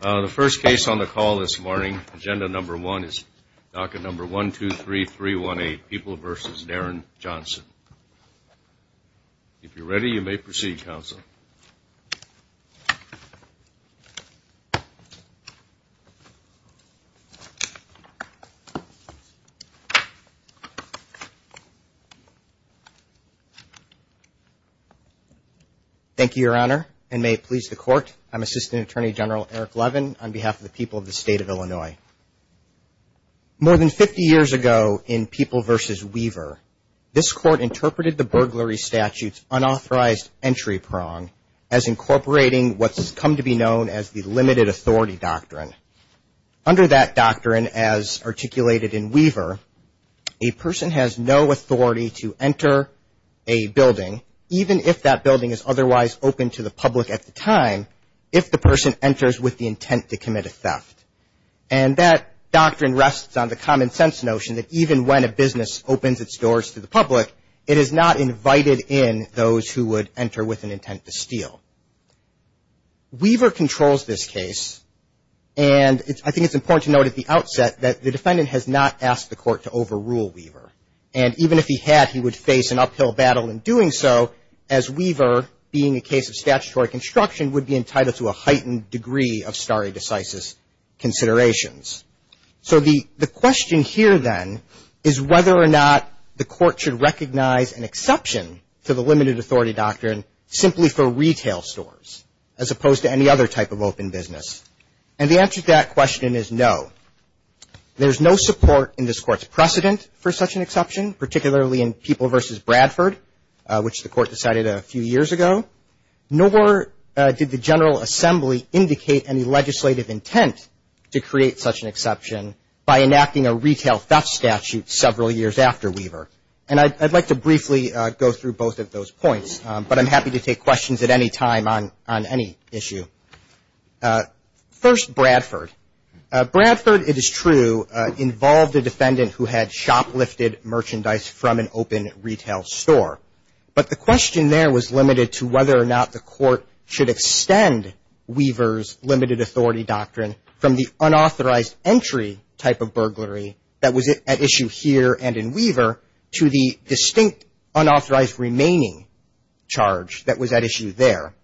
The first case on the call this morning, Agenda No. 1 is DACA No. 123318, People v. Darren Johnson. If you're ready, you may proceed, Counsel. Thank you, Your Honor, and may it please the Court, I'm Assistant Attorney General Eric Levin on behalf of the people of the State of Illinois. More than 50 years ago in People v. Weaver, this Court interpreted the burglary statute's unauthorized entry prong as incorporating what's come to be known as the limited authority doctrine. Under that doctrine, as articulated in Weaver, a person has no authority to enter a building, even if that building is otherwise open to the public at the time, if the person enters with the intent to commit a theft. And that doctrine rests on the common sense notion that even when a business opens its doors to the public, it is not invited in those who would enter with an intent to steal. Weaver controls this case, and I think it's important to note at the outset that the defendant has not asked the Court to overrule Weaver. And even if he had, he would face an uphill battle in doing so, as Weaver, being a case of statutory construction, would be entitled to a heightened degree of stare decisis considerations. So the question here, then, is whether or not the Court should recognize an exception to the limited authority doctrine simply for retail stores, as opposed to any other type of open business. And the answer to that question is no. There's no support in this Court's precedent for such an exception, particularly in People v. Bradford, which the Court decided a few years ago, nor did the General Assembly indicate any legislative intent to create such an exception by enacting a retail theft statute several years after Weaver. And I'd like to briefly go through both of those points, but I'm happy to take questions at any time on any issue. First, Bradford. Bradford, it is true, involved a defendant who had shoplifted merchandise from an open retail store. But the question there was limited to whether or not the Court should extend Weaver's limited authority doctrine from the unauthorized entry type of burglary that was at issue here and in Weaver to the distinct unauthorized remaining charge that was at issue there.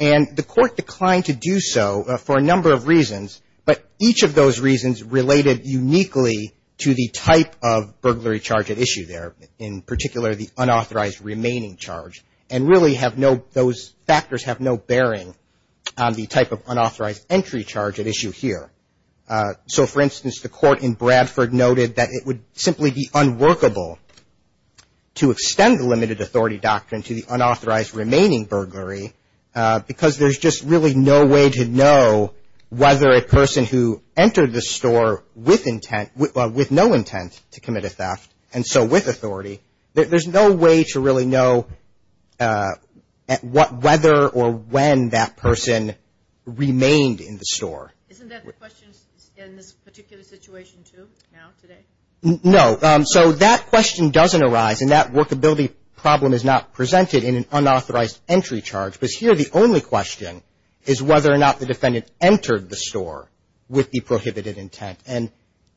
And the Court declined to do so for a number of reasons, but each of those reasons related uniquely to the type of burglary charge at issue there, in particular the unauthorized remaining charge, and really have no those factors have no bearing on the type of unauthorized entry charge at issue here. So, for instance, the Court in Bradford noted that it would simply be unworkable to extend the limited authority doctrine to the unauthorized remaining burglary because there's just really no way to know whether a person who entered the store with intent, with no intent to commit a theft, and so with authority, there's no way to really know whether or when that person remained in the store. Isn't that the question in this particular situation, too, now, today? No, so that question doesn't arise, and that workability problem is not presented in an unauthorized entry charge, because here the only question is whether or not the defendant entered the store with the prohibited intent. And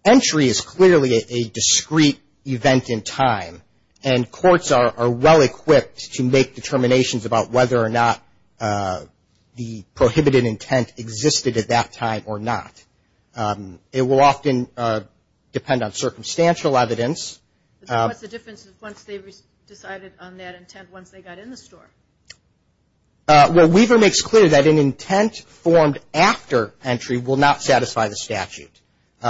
entry is clearly a discrete event in time, and courts are well equipped to make determinations about whether or not the prohibited intent existed at that time or not. It will often depend on circumstantial evidence. What's the difference once they've decided on that intent once they got in the store? Well, Weaver makes clear that an intent formed after entry will not satisfy the statute.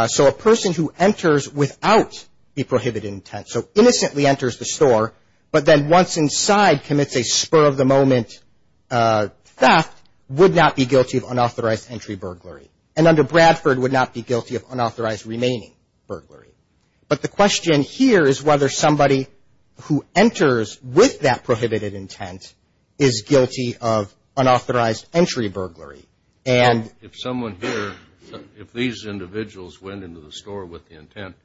So a person who enters without the prohibited intent, so innocently enters the store, but then once inside commits a spur-of-the-moment theft, would not be guilty of unauthorized entry burglary. And under Bradford, would not be guilty of unauthorized remaining burglary. But the question here is whether somebody who enters with that prohibited intent is guilty of unauthorized entry burglary. If someone here, if these individuals went into the store with the intent,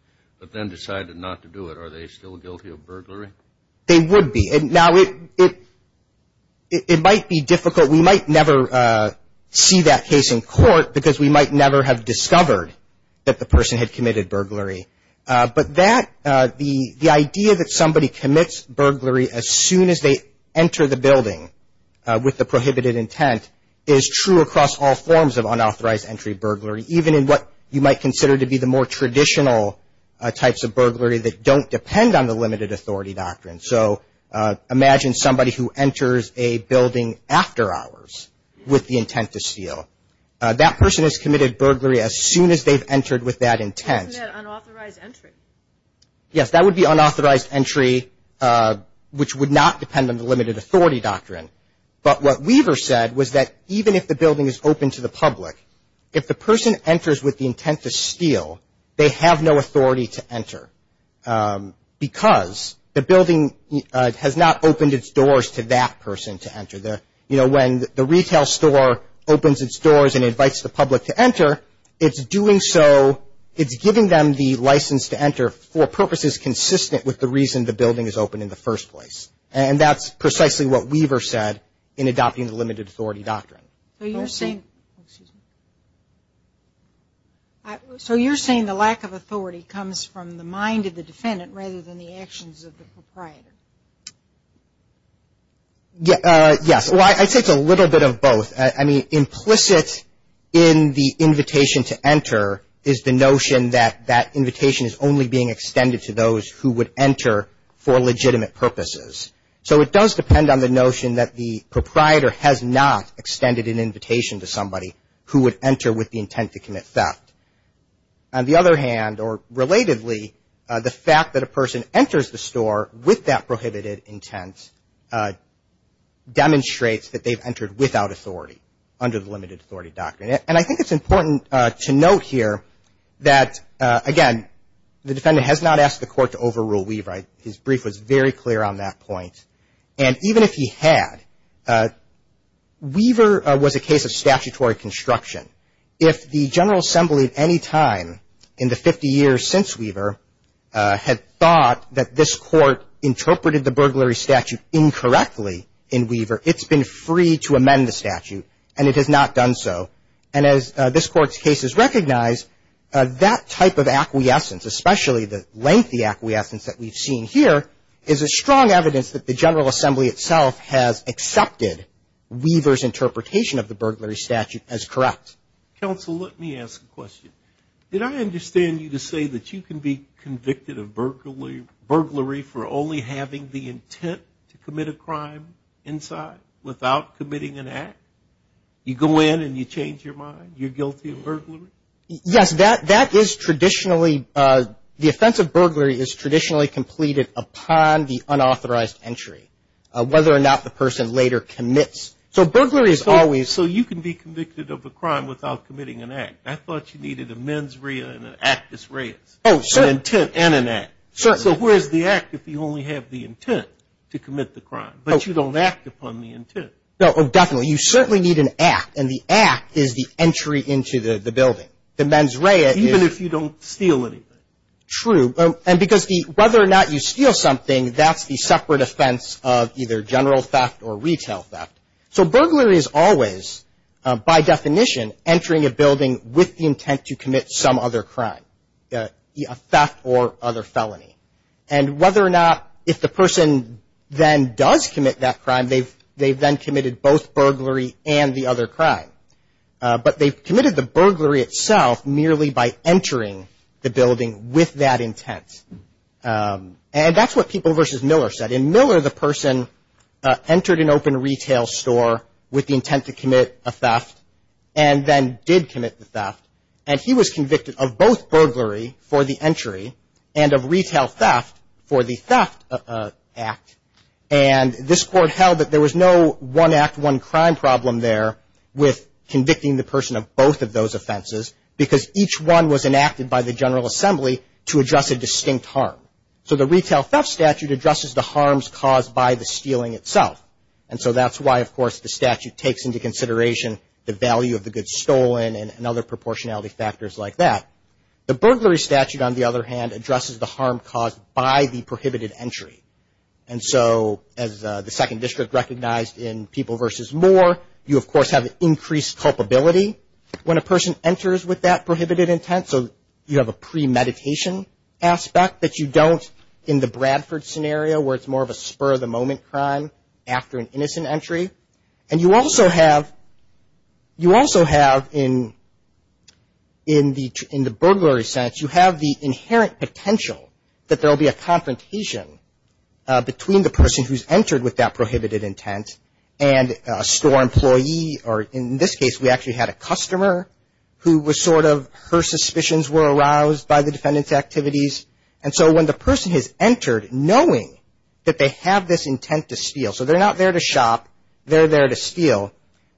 but then decided not to do it, are they still guilty of burglary? They would be. Now, it might be difficult. But we might never see that case in court because we might never have discovered that the person had committed burglary. But that, the idea that somebody commits burglary as soon as they enter the building with the prohibited intent is true across all forms of unauthorized entry burglary, even in what you might consider to be the more traditional types of burglary that don't depend on the limited authority doctrine. So imagine somebody who enters a building after hours with the intent to steal. That person has committed burglary as soon as they've entered with that intent. Isn't that unauthorized entry? Yes. That would be unauthorized entry, which would not depend on the limited authority doctrine. But what Weaver said was that even if the building is open to the public, if the person enters with the intent to steal, they have no authority to enter because the building has not opened its doors to that person to enter. You know, when the retail store opens its doors and invites the public to enter, it's doing so, it's giving them the license to enter for purposes consistent with the reason the building is open in the first place. And that's precisely what Weaver said in adopting the limited authority doctrine. So you're saying the lack of authority comes from the mind of the defendant rather than the actions of the proprietor? Yes. Well, I'd say it's a little bit of both. I mean, implicit in the invitation to enter is the notion that that invitation is only being extended to those who would enter for legitimate purposes. So it does depend on the notion that the proprietor has not extended an invitation to somebody who would enter with the intent to commit theft. On the other hand, or relatedly, the fact that a person enters the store with that prohibited intent demonstrates that they've entered without authority under the limited authority doctrine. And I think it's important to note here that, again, the defendant has not asked the court to overrule Weaver. His brief was very clear on that point. And even if he had, Weaver was a case of statutory construction. If the General Assembly at any time in the 50 years since Weaver had thought that this court interpreted the burglary statute incorrectly in Weaver, it's been free to amend the statute. And it has not done so. And as this Court's case has recognized, that type of acquiescence, especially the lengthy acquiescence that we've seen here, is a strong evidence that the General Assembly itself has accepted Weaver's interpretation of the burglary statute as correct. Counsel, let me ask a question. Did I understand you to say that you can be convicted of burglary for only having the intent to commit a crime inside without committing an act? You go in and you change your mind? You're guilty of burglary? Yes. That is traditionally the offense of burglary is traditionally completed upon the unauthorized entry, whether or not the person later commits. So burglary is always So you can be convicted of a crime without committing an act. I thought you needed a mens rea and an actus reus. Oh, certainly. An intent and an act. Certainly. So where's the act if you only have the intent to commit the crime, but you don't act upon the intent? Oh, definitely. Well, you certainly need an act, and the act is the entry into the building. The mens rea is Even if you don't steal anything. True. And because the whether or not you steal something, that's the separate offense of either general theft or retail theft. So burglary is always, by definition, entering a building with the intent to commit some other crime, a theft or other felony. And whether or not if the person then does commit that crime, they've then committed both burglary and the other crime. But they've committed the burglary itself merely by entering the building with that intent. And that's what People v. Miller said. In Miller, the person entered an open retail store with the intent to commit a theft and then did commit the theft. And he was convicted of both burglary for the entry and of retail theft for the theft act. And this Court held that there was no one act, one crime problem there with convicting the person of both of those offenses because each one was enacted by the General Assembly to address a distinct harm. So the retail theft statute addresses the harms caused by the stealing itself. And so that's why, of course, the statute takes into consideration the value of the goods stolen and other proportionality factors like that. The burglary statute, on the other hand, addresses the harm caused by the prohibited entry. And so as the Second District recognized in People v. Moore, you, of course, have increased culpability when a person enters with that prohibited intent. So you have a premeditation aspect that you don't in the Bradford scenario where it's more of a spur-of-the-moment crime after an innocent entry. And you also have in the burglary sense, you have the inherent potential that there will be a confrontation between the person who's entered with that prohibited intent and a store employee, or in this case we actually had a customer who was sort of, her suspicions were aroused by the defendant's activities. And so when the person has entered knowing that they have this intent to steal, so they're not there to shop, they're there to steal,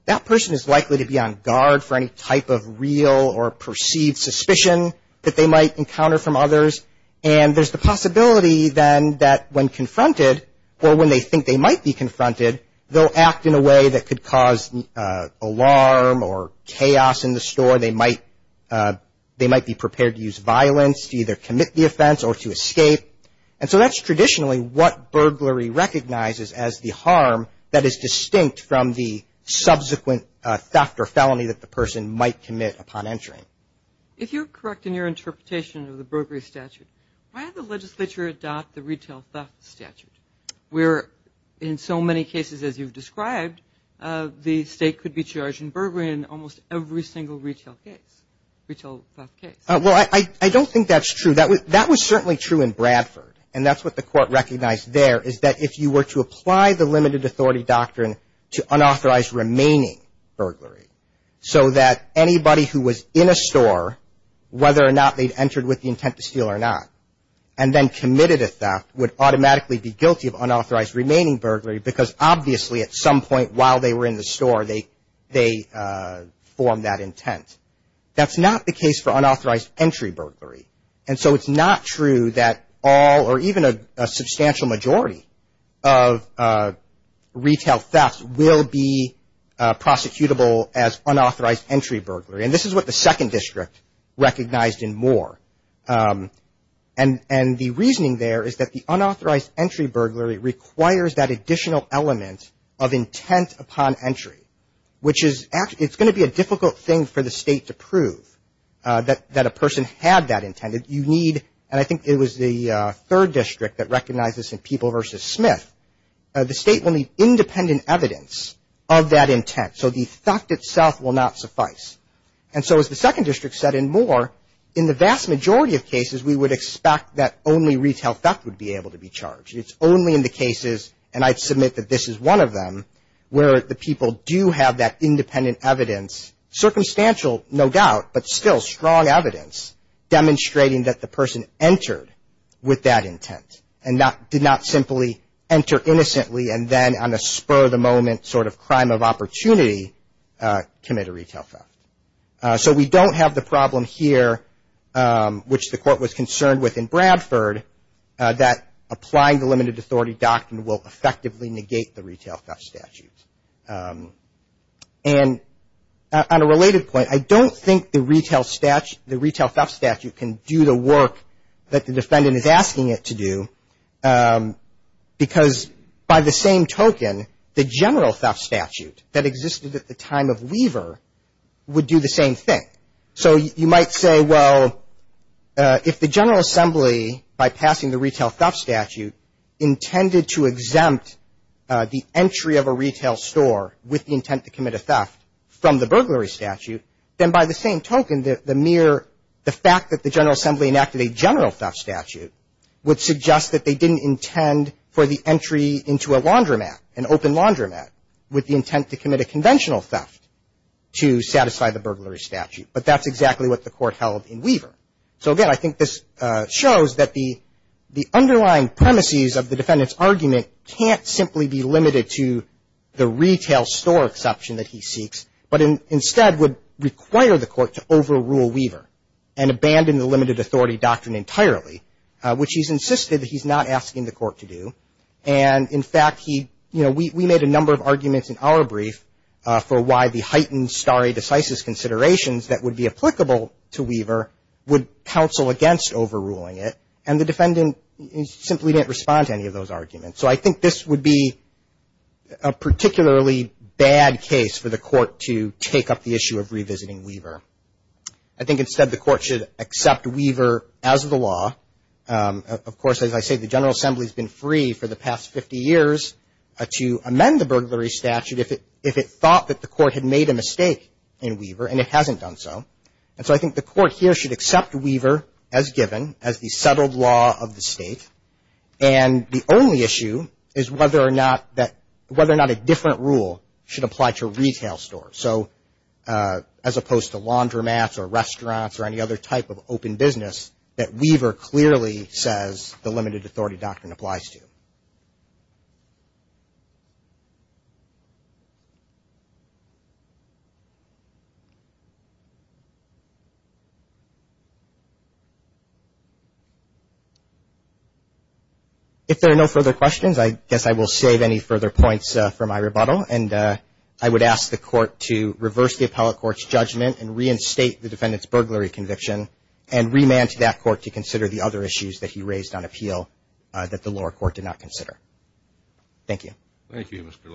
that person is likely to be on guard for any type of real or perceived suspicion that they might encounter from others. And there's the possibility then that when confronted or when they think they might be confronted, they'll act in a way that could cause alarm or chaos in the store. They might be prepared to use violence, to either commit the offense or to escape. And so that's traditionally what burglary recognizes as the harm that is distinct from the subsequent theft or felony that the person might commit upon entering. If you're correct in your interpretation of the burglary statute, why did the legislature adopt the retail theft statute, where in so many cases as you've described, the state could be charged in burglary in almost every single retail case, retail theft case? Well, I don't think that's true. That was certainly true in Bradford. And that's what the court recognized there, is that if you were to apply the limited authority doctrine to unauthorized remaining burglary, so that anybody who was in a store, whether or not they'd entered with the intent to steal or not, and then committed a theft would automatically be guilty of unauthorized remaining burglary, because obviously at some point while they were in the store, they formed that intent. That's not the case for unauthorized entry burglary. And so it's not true that all or even a substantial majority of retail thefts will be prosecutable as unauthorized entry burglary. And this is what the second district recognized in Moore. And the reasoning there is that the unauthorized entry burglary requires that additional element of intent upon entry, which is it's going to be a difficult thing for the state to prove that a person had that intent. You need, and I think it was the third district that recognized this in People v. Smith, the state will need independent evidence of that intent. So the theft itself will not suffice. And so as the second district said in Moore, in the vast majority of cases we would expect that only retail theft would be able to be charged. It's only in the cases, and I'd submit that this is one of them, where the people do have that independent evidence, circumstantial no doubt, but still strong evidence demonstrating that the person entered with that intent and did not simply enter innocently and then on a spur of the moment sort of crime of opportunity commit a retail theft. So we don't have the problem here, which the court was concerned with in Bradford, that applying the limited authority doctrine will effectively negate the retail theft statute. And on a related point, I don't think the retail theft statute can do the work that the defendant is asking it to do, because by the same token, the general theft statute that existed at the time of Weaver would do the same thing. So you might say, well, if the General Assembly, by passing the retail theft statute, intended to exempt the entry of a retail store with the intent to commit a theft from the burglary statute, then by the same token, the mere the fact that the General Assembly enacted a general theft statute would suggest that they didn't intend for the entry into a laundromat, an open laundromat, with the intent to commit a conventional theft, to satisfy the burglary statute. But that's exactly what the court held in Weaver. So, again, I think this shows that the underlying premises of the defendant's argument can't simply be limited to the retail store exception that he seeks, but instead would require the court to overrule Weaver and abandon the limited authority doctrine entirely, which he's insisted that he's not asking the court to do. And, in fact, he, you know, we made a number of arguments in our brief for why the heightened stare decisis considerations that would be applicable to Weaver would counsel against overruling it. And the defendant simply didn't respond to any of those arguments. So I think this would be a particularly bad case for the court to take up the issue of revisiting Weaver. I think instead the court should accept Weaver as the law. Of course, as I say, the General Assembly has been free for the past 50 years to amend the burglary statute if it thought that the court had made a mistake in Weaver, and it hasn't done so. And so I think the court here should accept Weaver as given, as the settled law of the state. And the only issue is whether or not that – whether or not a different rule should apply to a retail store. So as opposed to laundromats or restaurants or any other type of open business, that Weaver clearly says the limited authority doctrine applies to. If there are no further questions, I guess I will save any further points for my rebuttal. And I would ask the court to reverse the appellate court's judgment and reinstate the defendant's burglary conviction and remand to that court to consider the other issues that he raised on appeal that the lower court did not consider. Thank you. Thank you, Mr.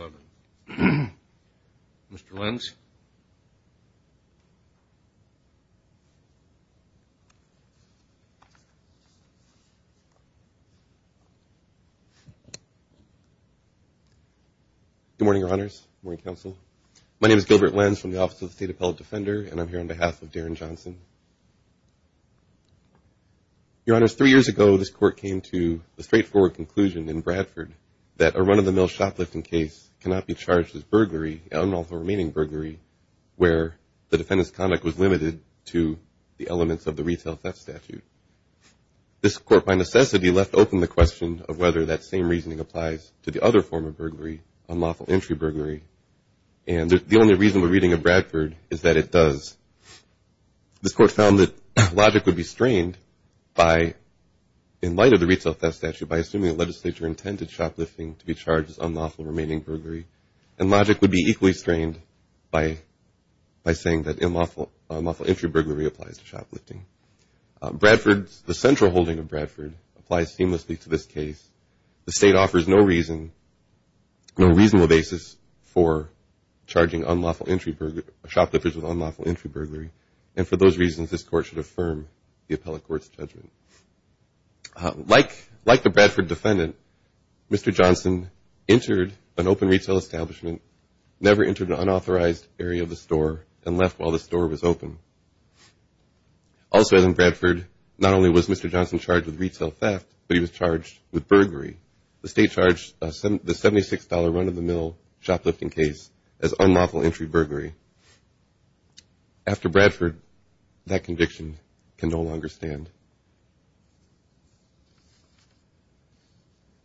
Levin. Mr. Lenz. Good morning, Your Honors. Good morning, Counsel. My name is Gilbert Lenz from the Office of the State Appellate Defender, and I'm here on behalf of Darren Johnson. Your Honors, three years ago this court came to the straightforward conclusion in Bradford that a run-of-the-mill shoplifting case cannot be charged as burglary, unlawful remaining burglary, where the defendant's conduct was limited to the elements of the retail theft statute. This court, by necessity, left open the question of whether that same reasoning applies to the other form of burglary, unlawful entry burglary, and the only reason we're reading of Bradford is that it does. This court found that logic would be strained by, in light of the retail theft statute, by assuming the legislature intended shoplifting to be charged as unlawful remaining burglary, and logic would be equally strained by saying that unlawful entry burglary applies to shoplifting. Bradford's, the central holding of Bradford, applies seamlessly to this case. The state offers no reason, no reasonable basis for charging unlawful entry, shoplifters with unlawful entry burglary, and for those reasons this court should affirm the appellate court's judgment. Like the Bradford defendant, Mr. Johnson entered an open retail establishment, never entered an unauthorized area of the store, and left while the store was open. Also in Bradford, not only was Mr. Johnson charged with retail theft, but he was charged with burglary. The state charged the $76 run-of-the-mill shoplifting case as unlawful entry burglary. After Bradford, that conviction can no longer stand.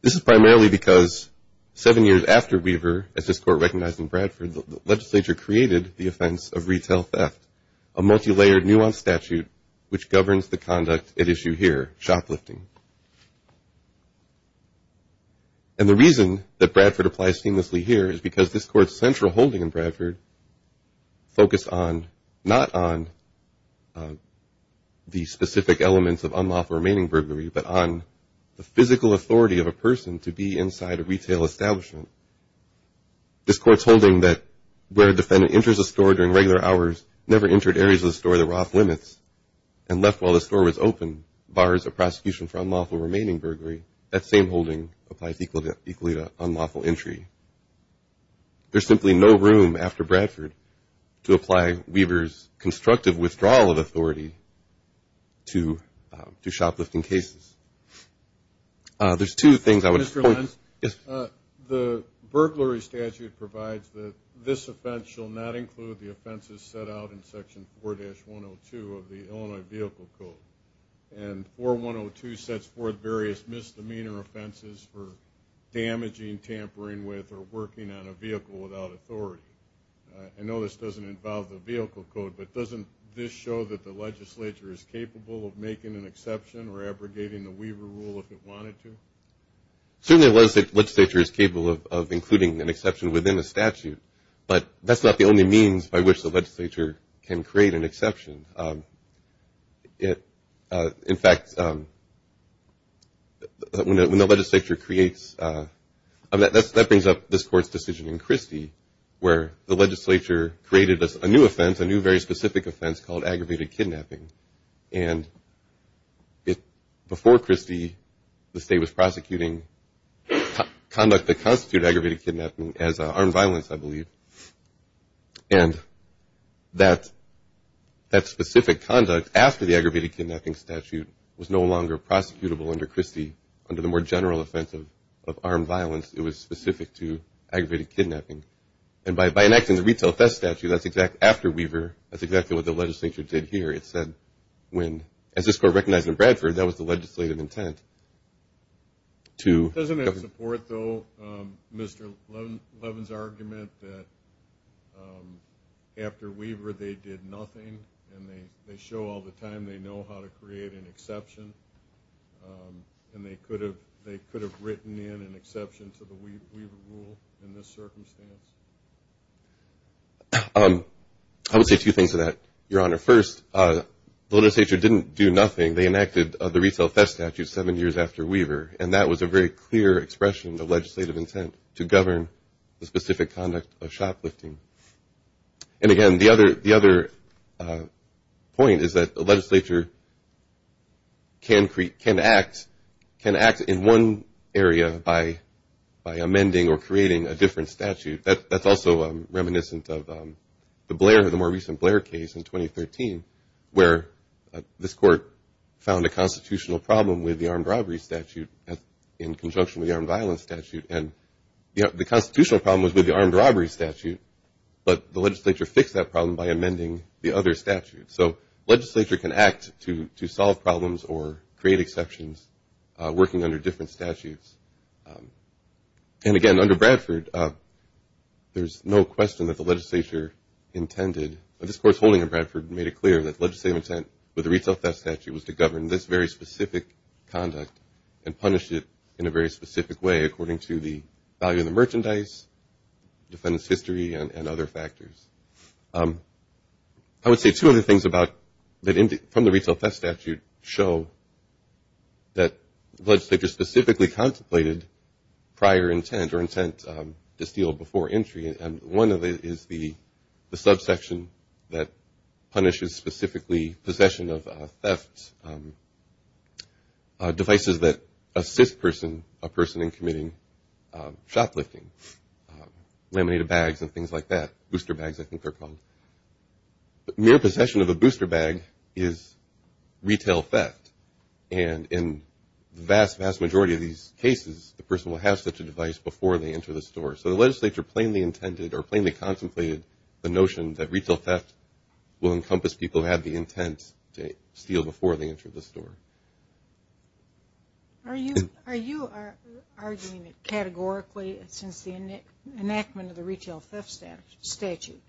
This is primarily because seven years after Weaver, as this court recognized in Bradford, the legislature created the offense of retail theft, a multi-layered, nuanced statute, which governs the conduct at issue here, shoplifting. And the reason that Bradford applies seamlessly here is because this court's central holding in Bradford focused on, not on the specific elements of unlawful remaining burglary, but on the physical authority of a person to be inside a retail establishment. This court's holding that where a defendant enters a store during regular hours, never entered areas of the store that were off-limits, and left while the store was open, bars a prosecution for unlawful remaining burglary. That same holding applies equally to unlawful entry. There's simply no room after Bradford to apply Weaver's constructive withdrawal of authority to shoplifting cases. There's two things I would point to. Mr. Lentz? Yes. The burglary statute provides that this offense shall not include the offenses set out in Section 4-102 of the and 4-102 sets forth various misdemeanor offenses for damaging, tampering with, or working on a vehicle without authority. I know this doesn't involve the vehicle code, but doesn't this show that the legislature is capable of making an exception or abrogating the Weaver rule if it wanted to? Certainly the legislature is capable of including an exception within the statute, but that's not the only means by which the legislature can create an exception. In fact, when the legislature creates, that brings up this court's decision in Christie where the legislature created a new offense, a new very specific offense called aggravated kidnapping. And before Christie, the state was prosecuting conduct that constituted aggravated kidnapping as armed violence, I believe. And that specific conduct after the aggravated kidnapping statute was no longer prosecutable under Christie. Under the more general offense of armed violence, it was specific to aggravated kidnapping. And by enacting the retail theft statute, that's exactly after Weaver, that's exactly what the legislature did here. It said when, as this court recognized in Bradford, that was the legislative intent to Doesn't it support, though, Mr. Levin's argument that after Weaver they did nothing and they show all the time they know how to create an exception and they could have written in an exception to the Weaver rule in this circumstance? I would say two things to that, Your Honor. First, the legislature didn't do nothing. They enacted the retail theft statute seven years after Weaver, and that was a very clear expression of legislative intent to govern the specific conduct of shoplifting. And again, the other point is that the legislature can act in one area by amending or creating a different statute. That's also reminiscent of the Blair, the more recent Blair case in 2013, where this court found a constitutional problem with the armed robbery statute in conjunction with the armed violence statute. And the constitutional problem was with the armed robbery statute, but the legislature fixed that problem by amending the other statute. So legislature can act to solve problems or create exceptions working under different statutes. And again, under Bradford, there's no question that the legislature intended, but this court's holding in Bradford made it clear that legislative intent with the retail theft statute was to govern this very specific conduct and punish it in a very specific way according to the value of the merchandise, defendant's history, and other factors. I would say two other things about, from the retail theft statute, show that the legislature specifically contemplated prior intent or intent to steal before entry, and one of it is the subsection that punishes specifically possession of theft devices that assist a person in committing shoplifting, laminated bags and things like that, booster bags I think they're called. Mere possession of a booster bag is retail theft, and in the vast, vast majority of these cases the person will have such a device before they enter the store. So the legislature plainly intended or plainly contemplated the notion that retail theft will encompass people who have the intent to steal before they enter the store. Are you arguing categorically since the enactment of the retail theft statute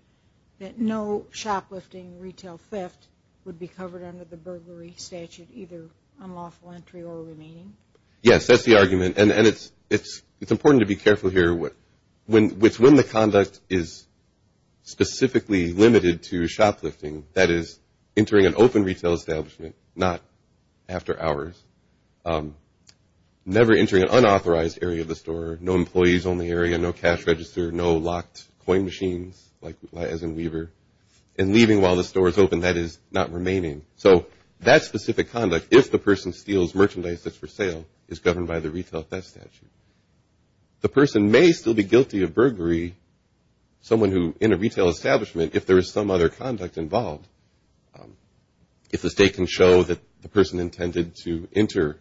that no shoplifting retail theft would be covered under the burglary statute, either unlawful entry or remaining? Yes, that's the argument, and it's important to be careful here, which when the conduct is specifically limited to shoplifting, that is entering an open retail establishment, not after hours, never entering an unauthorized area of the store, no employees only area, no cash register, no locked coin machines, as in Weaver, and leaving while the store is open, that is not remaining. So that specific conduct, if the person steals merchandise that's for sale, is governed by the retail theft statute. The person may still be guilty of burglary, someone who, in a retail establishment, if there is some other conduct involved, if the state can show that the person intended to enter,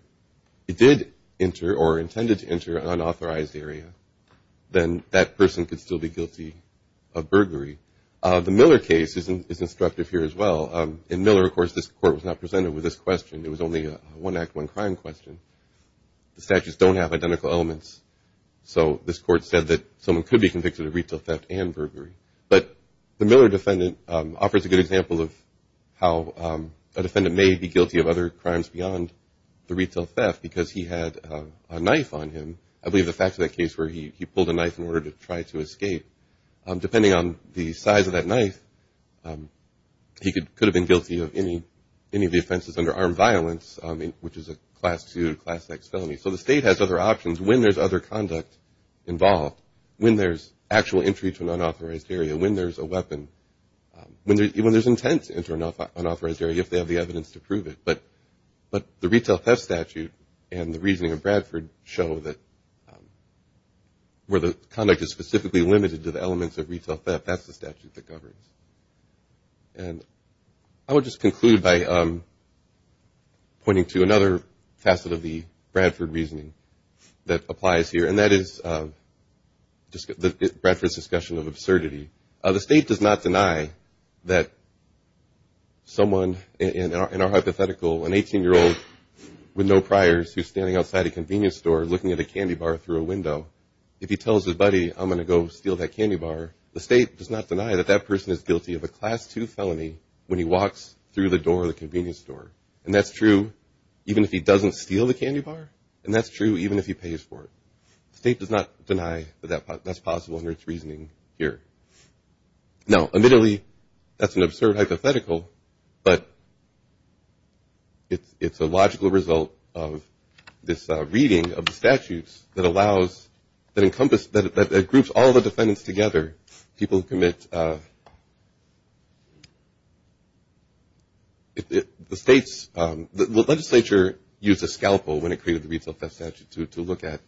an unauthorized area, then that person could still be guilty of burglary. The Miller case is instructive here as well. In Miller, of course, this court was not presented with this question. It was only a one act, one crime question. The statutes don't have identical elements, so this court said that someone could be convicted of retail theft and burglary. But the Miller defendant offers a good example of how a defendant may be guilty of other crimes beyond the retail theft because he had a knife on him. I believe the fact of that case where he pulled a knife in order to try to escape, depending on the size of that knife, he could have been guilty of any of the offenses under armed violence, which is a class two, class X felony. So the state has other options when there's other conduct involved, when there's actual entry to an unauthorized area, when there's a weapon, when there's intent to enter an unauthorized area if they have the evidence to prove it. But the retail theft statute and the reasoning of Bradford show that where the conduct is specifically limited to the elements of retail theft, that's the statute that governs. And I would just conclude by pointing to another facet of the Bradford reasoning that applies here, and that is Bradford's discussion of absurdity. The state does not deny that someone in our hypothetical, an 18-year-old with no priors, who's standing outside a convenience store looking at a candy bar through a window, if he tells his buddy, I'm going to go steal that candy bar, the state does not deny that that person is guilty of a class two felony when he walks through the door of the convenience store. And that's true even if he doesn't steal the candy bar, and that's true even if he pays for it. The state does not deny that that's possible under its reasoning here. Now, admittedly, that's an absurd hypothetical, but it's a logical result of this reading of the statutes that allows, that groups all the defendants together, people who commit. The state's, the legislature used a scalpel when it created the retail theft statute to look at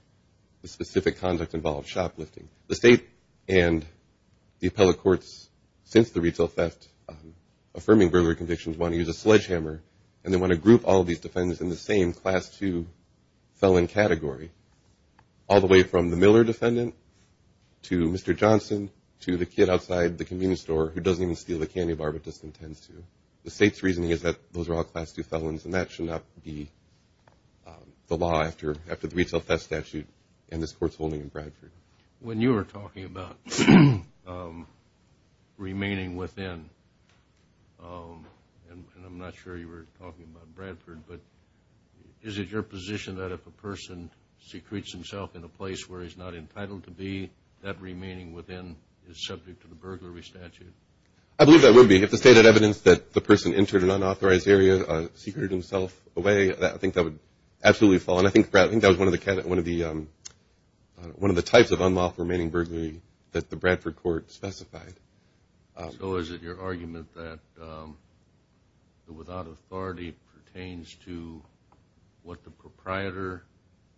the specific conduct involved, shoplifting. The state and the appellate courts, since the retail theft affirming burglary convictions, want to use a sledgehammer and they want to group all these defendants in the same class two felon category, all the way from the Miller defendant to Mr. Johnson to the kid outside the convenience store who doesn't even steal the candy bar, but just intends to. The state's reasoning is that those are all class two felons, and that should not be the law after the retail theft statute and this court's holding in Bradford. When you were talking about remaining within, and I'm not sure you were talking about Bradford, but is it your position that if a person secretes himself in a place where he's not entitled to be, that remaining within is subject to the burglary statute? I believe that would be. If the state had evidence that the person entered an unauthorized area, secreted himself away, I think that would absolutely fall. And I think that was one of the types of unlawful remaining burglary that the Bradford court specified. So is it your argument that the without authority pertains to what the proprietor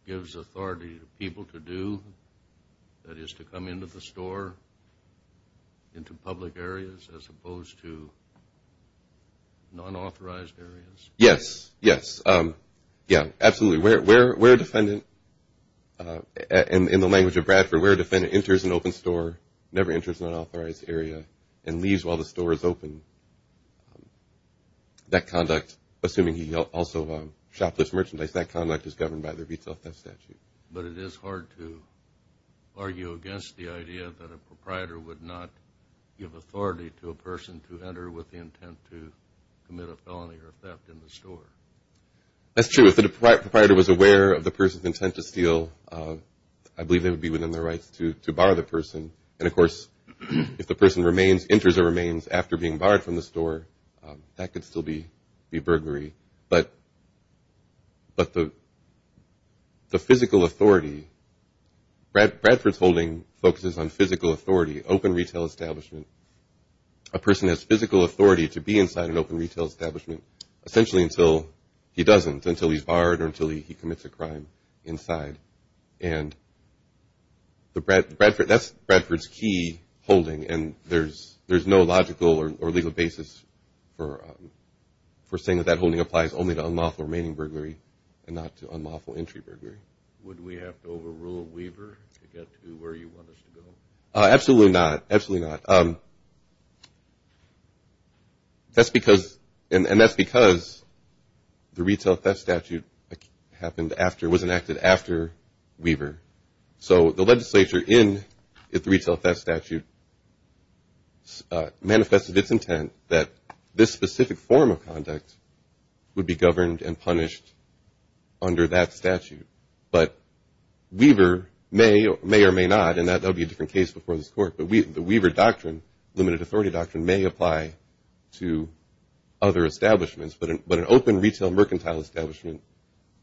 gives authority to people to do, that is to come into the store, into public areas, as opposed to unauthorized areas? Yes, yes. Yeah, absolutely. Where a defendant, in the language of Bradford, where a defendant enters an open store, never enters an unauthorized area, and leaves while the store is open, that conduct, assuming he also shoplifts merchandise, that conduct is governed by the retail theft statute. But it is hard to argue against the idea that a proprietor would not give authority to a person to enter with the intent to commit a felony or theft in the store. That's true. If the proprietor was aware of the person's intent to steal, I believe they would be within their rights to bar the person. And, of course, if the person remains, enters or remains after being barred from the store, that could still be burglary. But the physical authority, Bradford's holding focuses on physical authority, open retail establishment. A person has physical authority to be inside an open retail establishment essentially until he doesn't, until he's barred or until he commits a crime inside. And that's Bradford's key holding, and there's no logical or legal basis for saying that that holding applies only to unlawful remaining burglary and not to unlawful entry burglary. Would we have to overrule Weaver to get to where you want us to go? Absolutely not, absolutely not. That's because, and that's because the retail theft statute happened after, was enacted after Weaver. So the legislature in the retail theft statute manifested its intent that this specific form of conduct would be governed and punished under that statute. But Weaver may or may not, and that will be a different case before this court, but the Weaver doctrine, limited authority doctrine, may apply to other establishments. But an open retail mercantile establishment,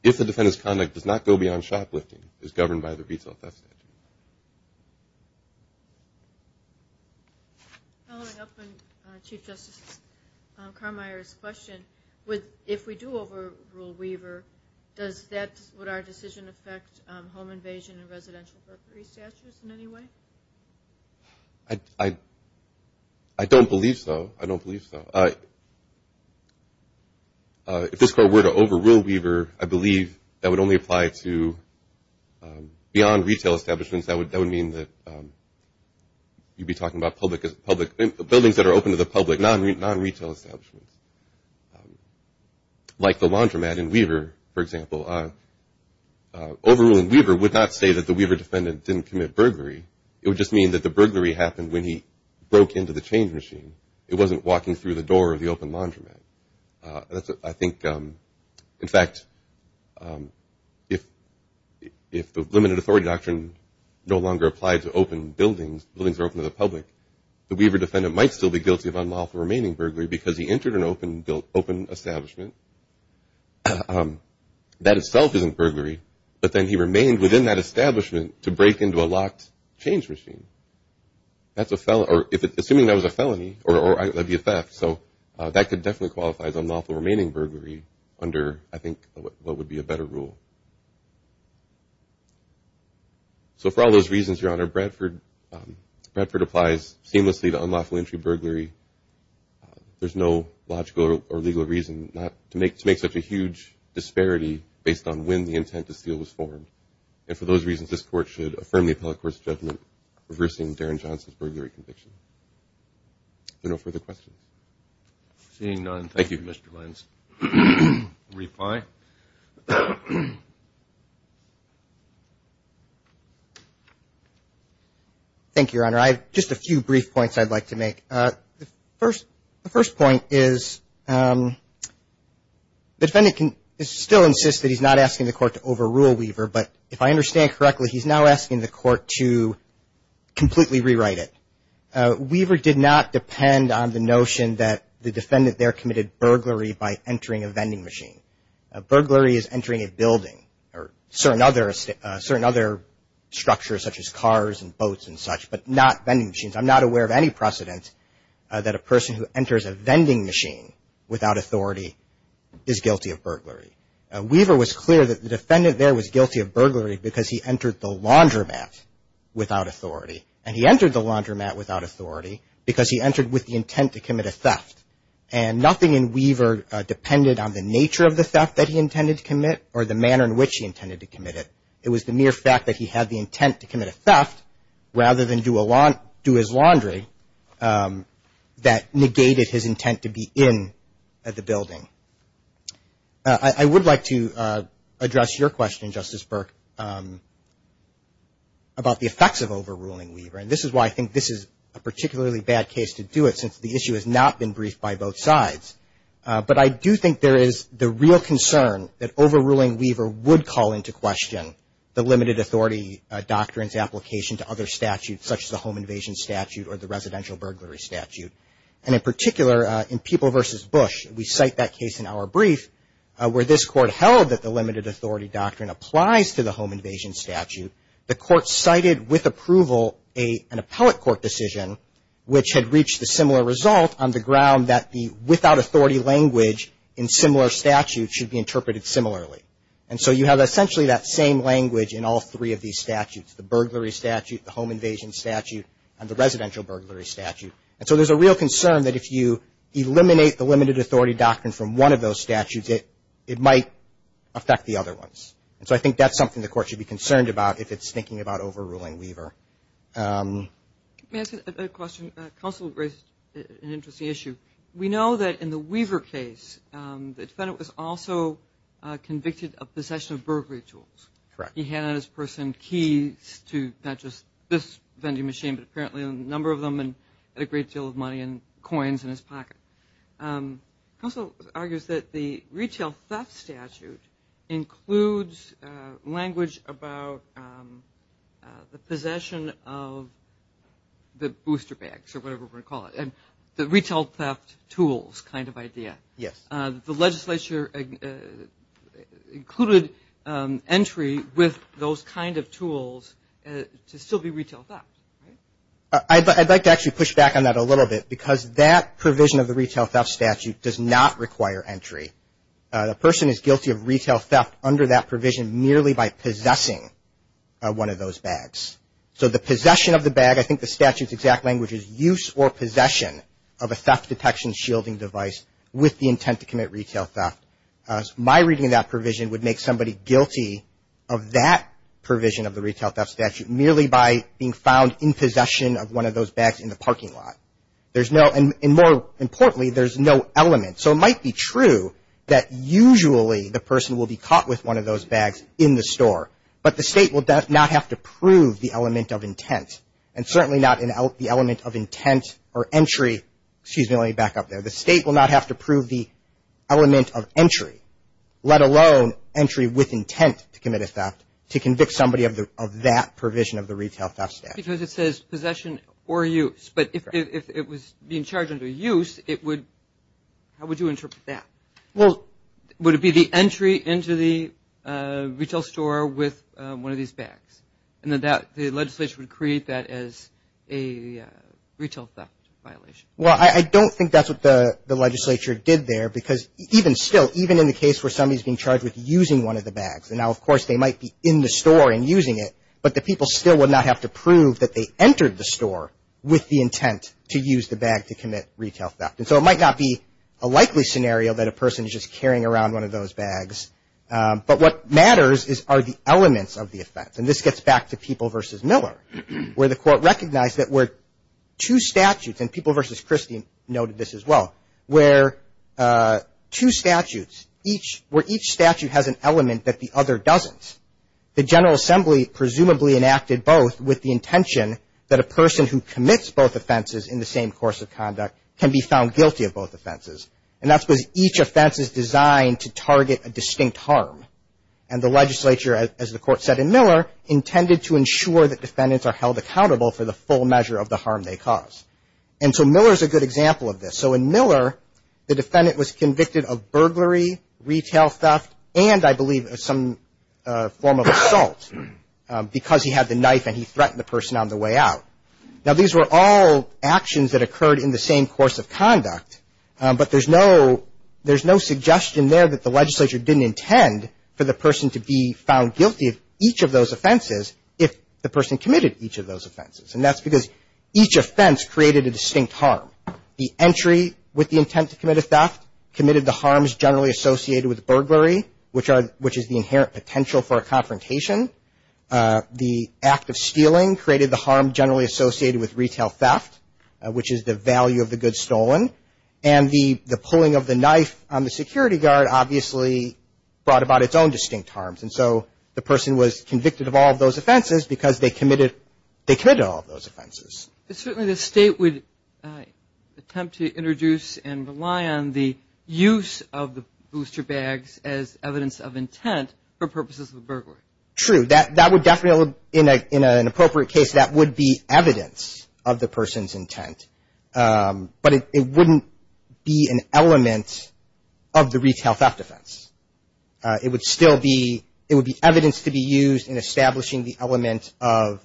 if the defendant's conduct does not go beyond shoplifting, is governed by the retail theft statute. Following up on Chief Justice Carmeier's question, if we do overrule Weaver, does that, would our decision affect home invasion and residential burglary statutes in any way? I don't believe so. I don't believe so. If this court were to overrule Weaver, I believe that would only apply to beyond retail establishments. That would mean that you'd be talking about public buildings that are open to the public, non-retail establishments. Like the laundromat in Weaver, for example. Overruling Weaver would not say that the Weaver defendant didn't commit burglary. It would just mean that the burglary happened when he broke into the change machine. It wasn't walking through the door of the open laundromat. I think, in fact, if the limited authority doctrine no longer applied to open buildings, buildings that are open to the public, the Weaver defendant might still be guilty of unlawful remaining burglary because he entered an open establishment. That itself isn't burglary, but then he remained within that establishment to break into a locked change machine. Assuming that was a felony, or that would be a theft, so that could definitely qualify as unlawful remaining burglary under, I think, what would be a better rule. So for all those reasons, Your Honor, Bradford applies seamlessly to unlawful entry burglary. There's no logical or legal reason to make such a huge disparity based on when the intent to steal was formed. And for those reasons, this Court should affirm the appellate court's judgment reversing Darren Johnson's burglary conviction. Are there no further questions? Seeing none, thank you, Mr. Lentz. Reply. Thank you, Your Honor. I have just a few brief points I'd like to make. The first point is the defendant can still insist that he's not asking the court to overrule Weaver, but if I understand correctly, he's now asking the court to completely rewrite it. Weaver did not depend on the notion that the defendant there committed burglary by entering a vending machine. A burglary is entering a building or certain other structures such as cars and boats and such, but not vending machines. I'm not aware of any precedent that a person who enters a vending machine without authority is guilty of burglary. Weaver was clear that the defendant there was guilty of burglary because he entered the laundromat without authority. And he entered the laundromat without authority because he entered with the intent to commit a theft. And nothing in Weaver depended on the nature of the theft that he intended to commit or the manner in which he intended to commit it. It was the mere fact that he had the intent to commit a theft rather than do his laundry that negated his intent to be in the building. I would like to address your question, Justice Burke, about the effects of overruling Weaver. And this is why I think this is a particularly bad case to do it since the issue has not been briefed by both sides. But I do think there is the real concern that overruling Weaver would call into question the limited authority doctrines application to other statutes such as the home invasion statute or the residential burglary statute. And in particular, in People v. Bush, we cite that case in our brief where this court held that the limited authority doctrine applies to the home invasion statute. The court cited with approval an appellate court decision which had reached the similar result on the ground that the without authority language in similar statutes should be interpreted similarly. And so you have essentially that same language in all three of these statutes, the burglary statute, the home invasion statute, and the residential burglary statute. And so there's a real concern that if you eliminate the limited authority doctrine from one of those statutes, it might affect the other ones. And so I think that's something the court should be concerned about if it's thinking about overruling Weaver. Let me ask you a question. Counsel raised an interesting issue. We know that in the Weaver case, the defendant was also convicted of possession of burglary tools. Correct. He had on his person keys to not just this vending machine but apparently a number of them and had a great deal of money and coins in his pocket. Counsel argues that the retail theft statute includes language about the possession of the booster bags or whatever we're going to call it and the retail theft tools kind of idea. Yes. The legislature included entry with those kind of tools to still be retail theft, right? I'd like to actually push back on that a little bit because that provision of the retail theft statute does not require entry. The person is guilty of retail theft under that provision merely by possessing one of those bags. So the possession of the bag, I think the statute's exact language is use or possession of a theft detection shielding device with the intent to commit retail theft. My reading of that provision would make somebody guilty of that provision of the retail theft statute merely by being found in possession of one of those bags in the parking lot. And more importantly, there's no element. So it might be true that usually the person will be caught with one of those bags in the store, but the State will not have to prove the element of intent and certainly not the element of intent or entry. Excuse me, let me back up there. The State will not have to prove the element of entry, let alone entry with intent to commit a theft, to convict somebody of that provision of the retail theft statute. Because it says possession or use. But if it was being charged under use, how would you interpret that? Well, would it be the entry into the retail store with one of these bags? And the legislature would create that as a retail theft violation. Well, I don't think that's what the legislature did there because even still, even in the case where somebody's being charged with using one of the bags, and now of course they might be in the store and using it, but the people still would not have to prove that they entered the store with the intent to use the bag to commit retail theft. And so it might not be a likely scenario that a person is just carrying around one of those bags. But what matters are the elements of the effect. And this gets back to People v. Miller, where the Court recognized that where two statutes, and People v. Christie noted this as well, where two statutes, where each statute has an element that the other doesn't, the General Assembly presumably enacted both with the intention that a person who commits both offenses in the same course of conduct can be found guilty of both offenses. And that's because each offense is designed to target a distinct harm. And the legislature, as the Court said in Miller, intended to ensure that defendants are held accountable for the full measure of the harm they cause. And so Miller's a good example of this. And so in Miller, the defendant was convicted of burglary, retail theft, and I believe some form of assault because he had the knife and he threatened the person on the way out. Now, these were all actions that occurred in the same course of conduct, but there's no suggestion there that the legislature didn't intend for the person to be found guilty of each of those offenses if the person committed each of those offenses. And that's because each offense created a distinct harm. The entry with the intent to commit a theft committed the harms generally associated with burglary, which is the inherent potential for a confrontation. The act of stealing created the harm generally associated with retail theft, which is the value of the goods stolen. And the pulling of the knife on the security guard obviously brought about its own distinct harms. And so the person was convicted of all of those offenses because they committed all of those offenses. Certainly the state would attempt to introduce and rely on the use of the booster bags as evidence of intent for purposes of a burglary. True. That would definitely, in an appropriate case, that would be evidence of the person's intent. But it wouldn't be an element of the retail theft offense. It would still be, it would be evidence to be used in establishing the element of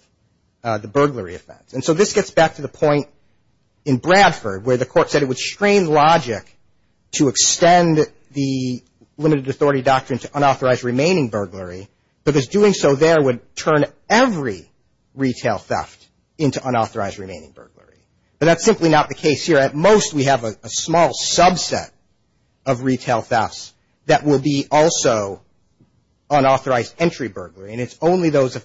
the burglary offense. And so this gets back to the point in Bradford where the court said it would strain logic to extend the limited authority doctrine to unauthorized remaining burglary, because doing so there would turn every retail theft into unauthorized remaining burglary. But that's simply not the case here. At most we have a small subset of retail thefts that will be also unauthorized entry burglary. And it's only that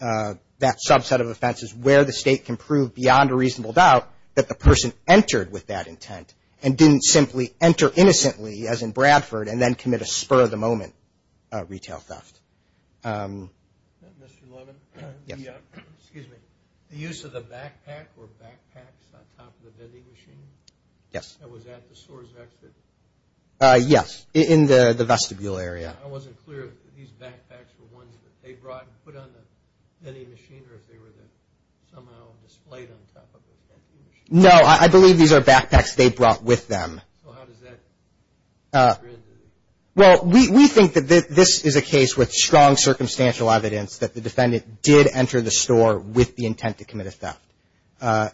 subset of offenses where the state can prove beyond a reasonable doubt that the person entered with that intent and didn't simply enter innocently, as in Bradford, and then commit a spur-of-the-moment retail theft. Mr. Levin? Yes. Excuse me. The use of the backpack or backpacks on top of the vending machine? Yes. That was at the source exit? Yes. In the vestibule area. I wasn't clear if these backpacks were ones that they brought and put on the vending machine or if they were somehow displayed on top of the vending machine. No. I believe these are backpacks they brought with them. So how does that occur? Well, we think that this is a case with strong circumstantial evidence that the defendant did enter the store with the intent to commit a theft.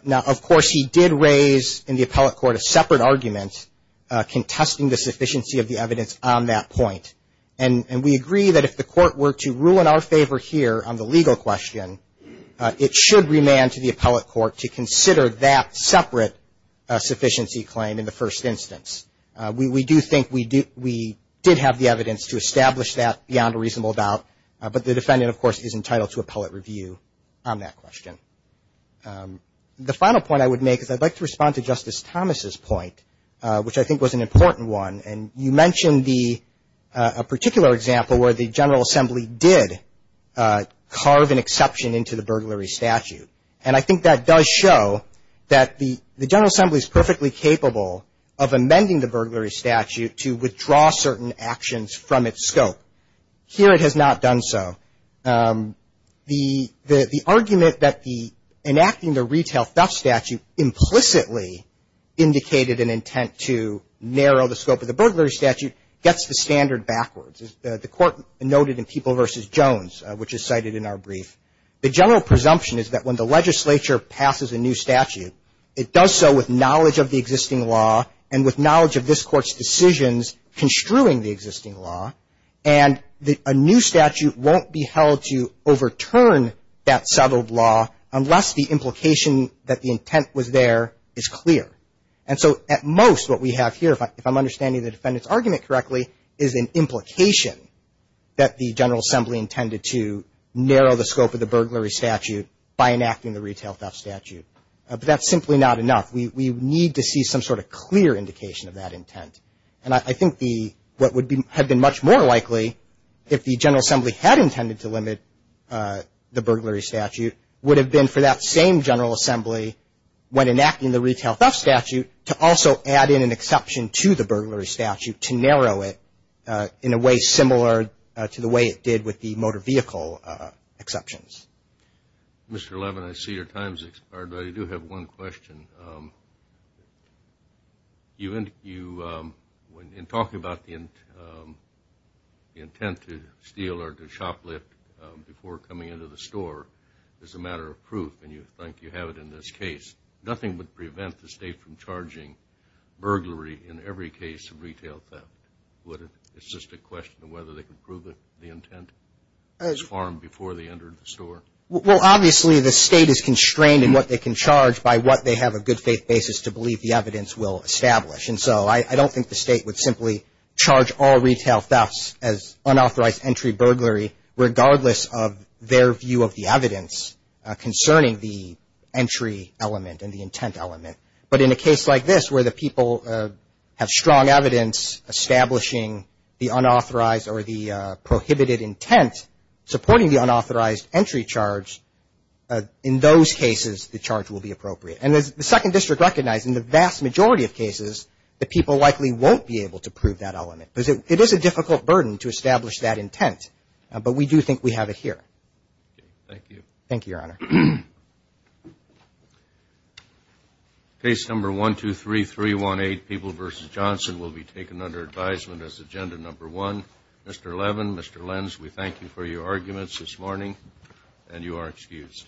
Now, of course, he did raise in the appellate court a separate argument contesting the sufficiency of the evidence on that point. And we agree that if the court were to rule in our favor here on the legal question, it should remand to the appellate court to consider that separate sufficiency claim in the first instance. We do think we did have the evidence to establish that beyond a reasonable doubt. But the defendant, of course, is entitled to appellate review on that question. The final point I would make is I'd like to respond to Justice Thomas' point, which I think was an important one. And you mentioned a particular example where the General Assembly did carve an exception into the burglary statute. And I think that does show that the General Assembly is perfectly capable of amending the burglary statute to withdraw certain actions from its scope. Here it has not done so. The argument that enacting the retail theft statute implicitly indicated an intent to narrow the scope of the burglary statute gets the standard backwards, as the Court noted in People v. Jones, which is cited in our brief. The general presumption is that when the legislature passes a new statute, it does so with knowledge of the existing law and with knowledge of this Court's decisions construing the existing law. And a new statute won't be held to overturn that settled law unless the implication that the intent was there is clear. And so at most what we have here, if I'm understanding the defendant's argument correctly, is an implication that the General Assembly intended to narrow the scope of the burglary statute by enacting the retail theft statute. But that's simply not enough. We need to see some sort of clear indication of that intent. And I think what would have been much more likely, if the General Assembly had intended to limit the burglary statute, would have been for that same General Assembly, when enacting the retail theft statute, to also add in an exception to the burglary statute, to narrow it in a way similar to the way it did with the motor vehicle exceptions. Mr. Levin, I see your time has expired, but I do have one question. In talking about the intent to steal or to shoplift before coming into the store, as a matter of proof, and you think you have it in this case, nothing would prevent the State from charging burglary in every case of retail theft, would it? It's just a question of whether they could prove that the intent was farmed before they entered the store. Well, obviously the State is constrained in what they can charge by what they have a good faith basis to believe the evidence will establish. And so I don't think the State would simply charge all retail thefts as unauthorized entry burglary, regardless of their view of the evidence concerning the entry element and the intent element. But in a case like this, where the people have strong evidence establishing the unauthorized or the prohibited intent supporting the unauthorized entry charge, in those cases the charge will be appropriate. And as the Second District recognized, in the vast majority of cases, the people likely won't be able to prove that element, because it is a difficult burden to establish that intent. But we do think we have it here. Thank you. Thank you, Your Honor. Case number 123318, People v. Johnson, will be taken under advisement as agenda number one. Mr. Levin, Mr. Lenz, we thank you for your arguments this morning, and you are excused.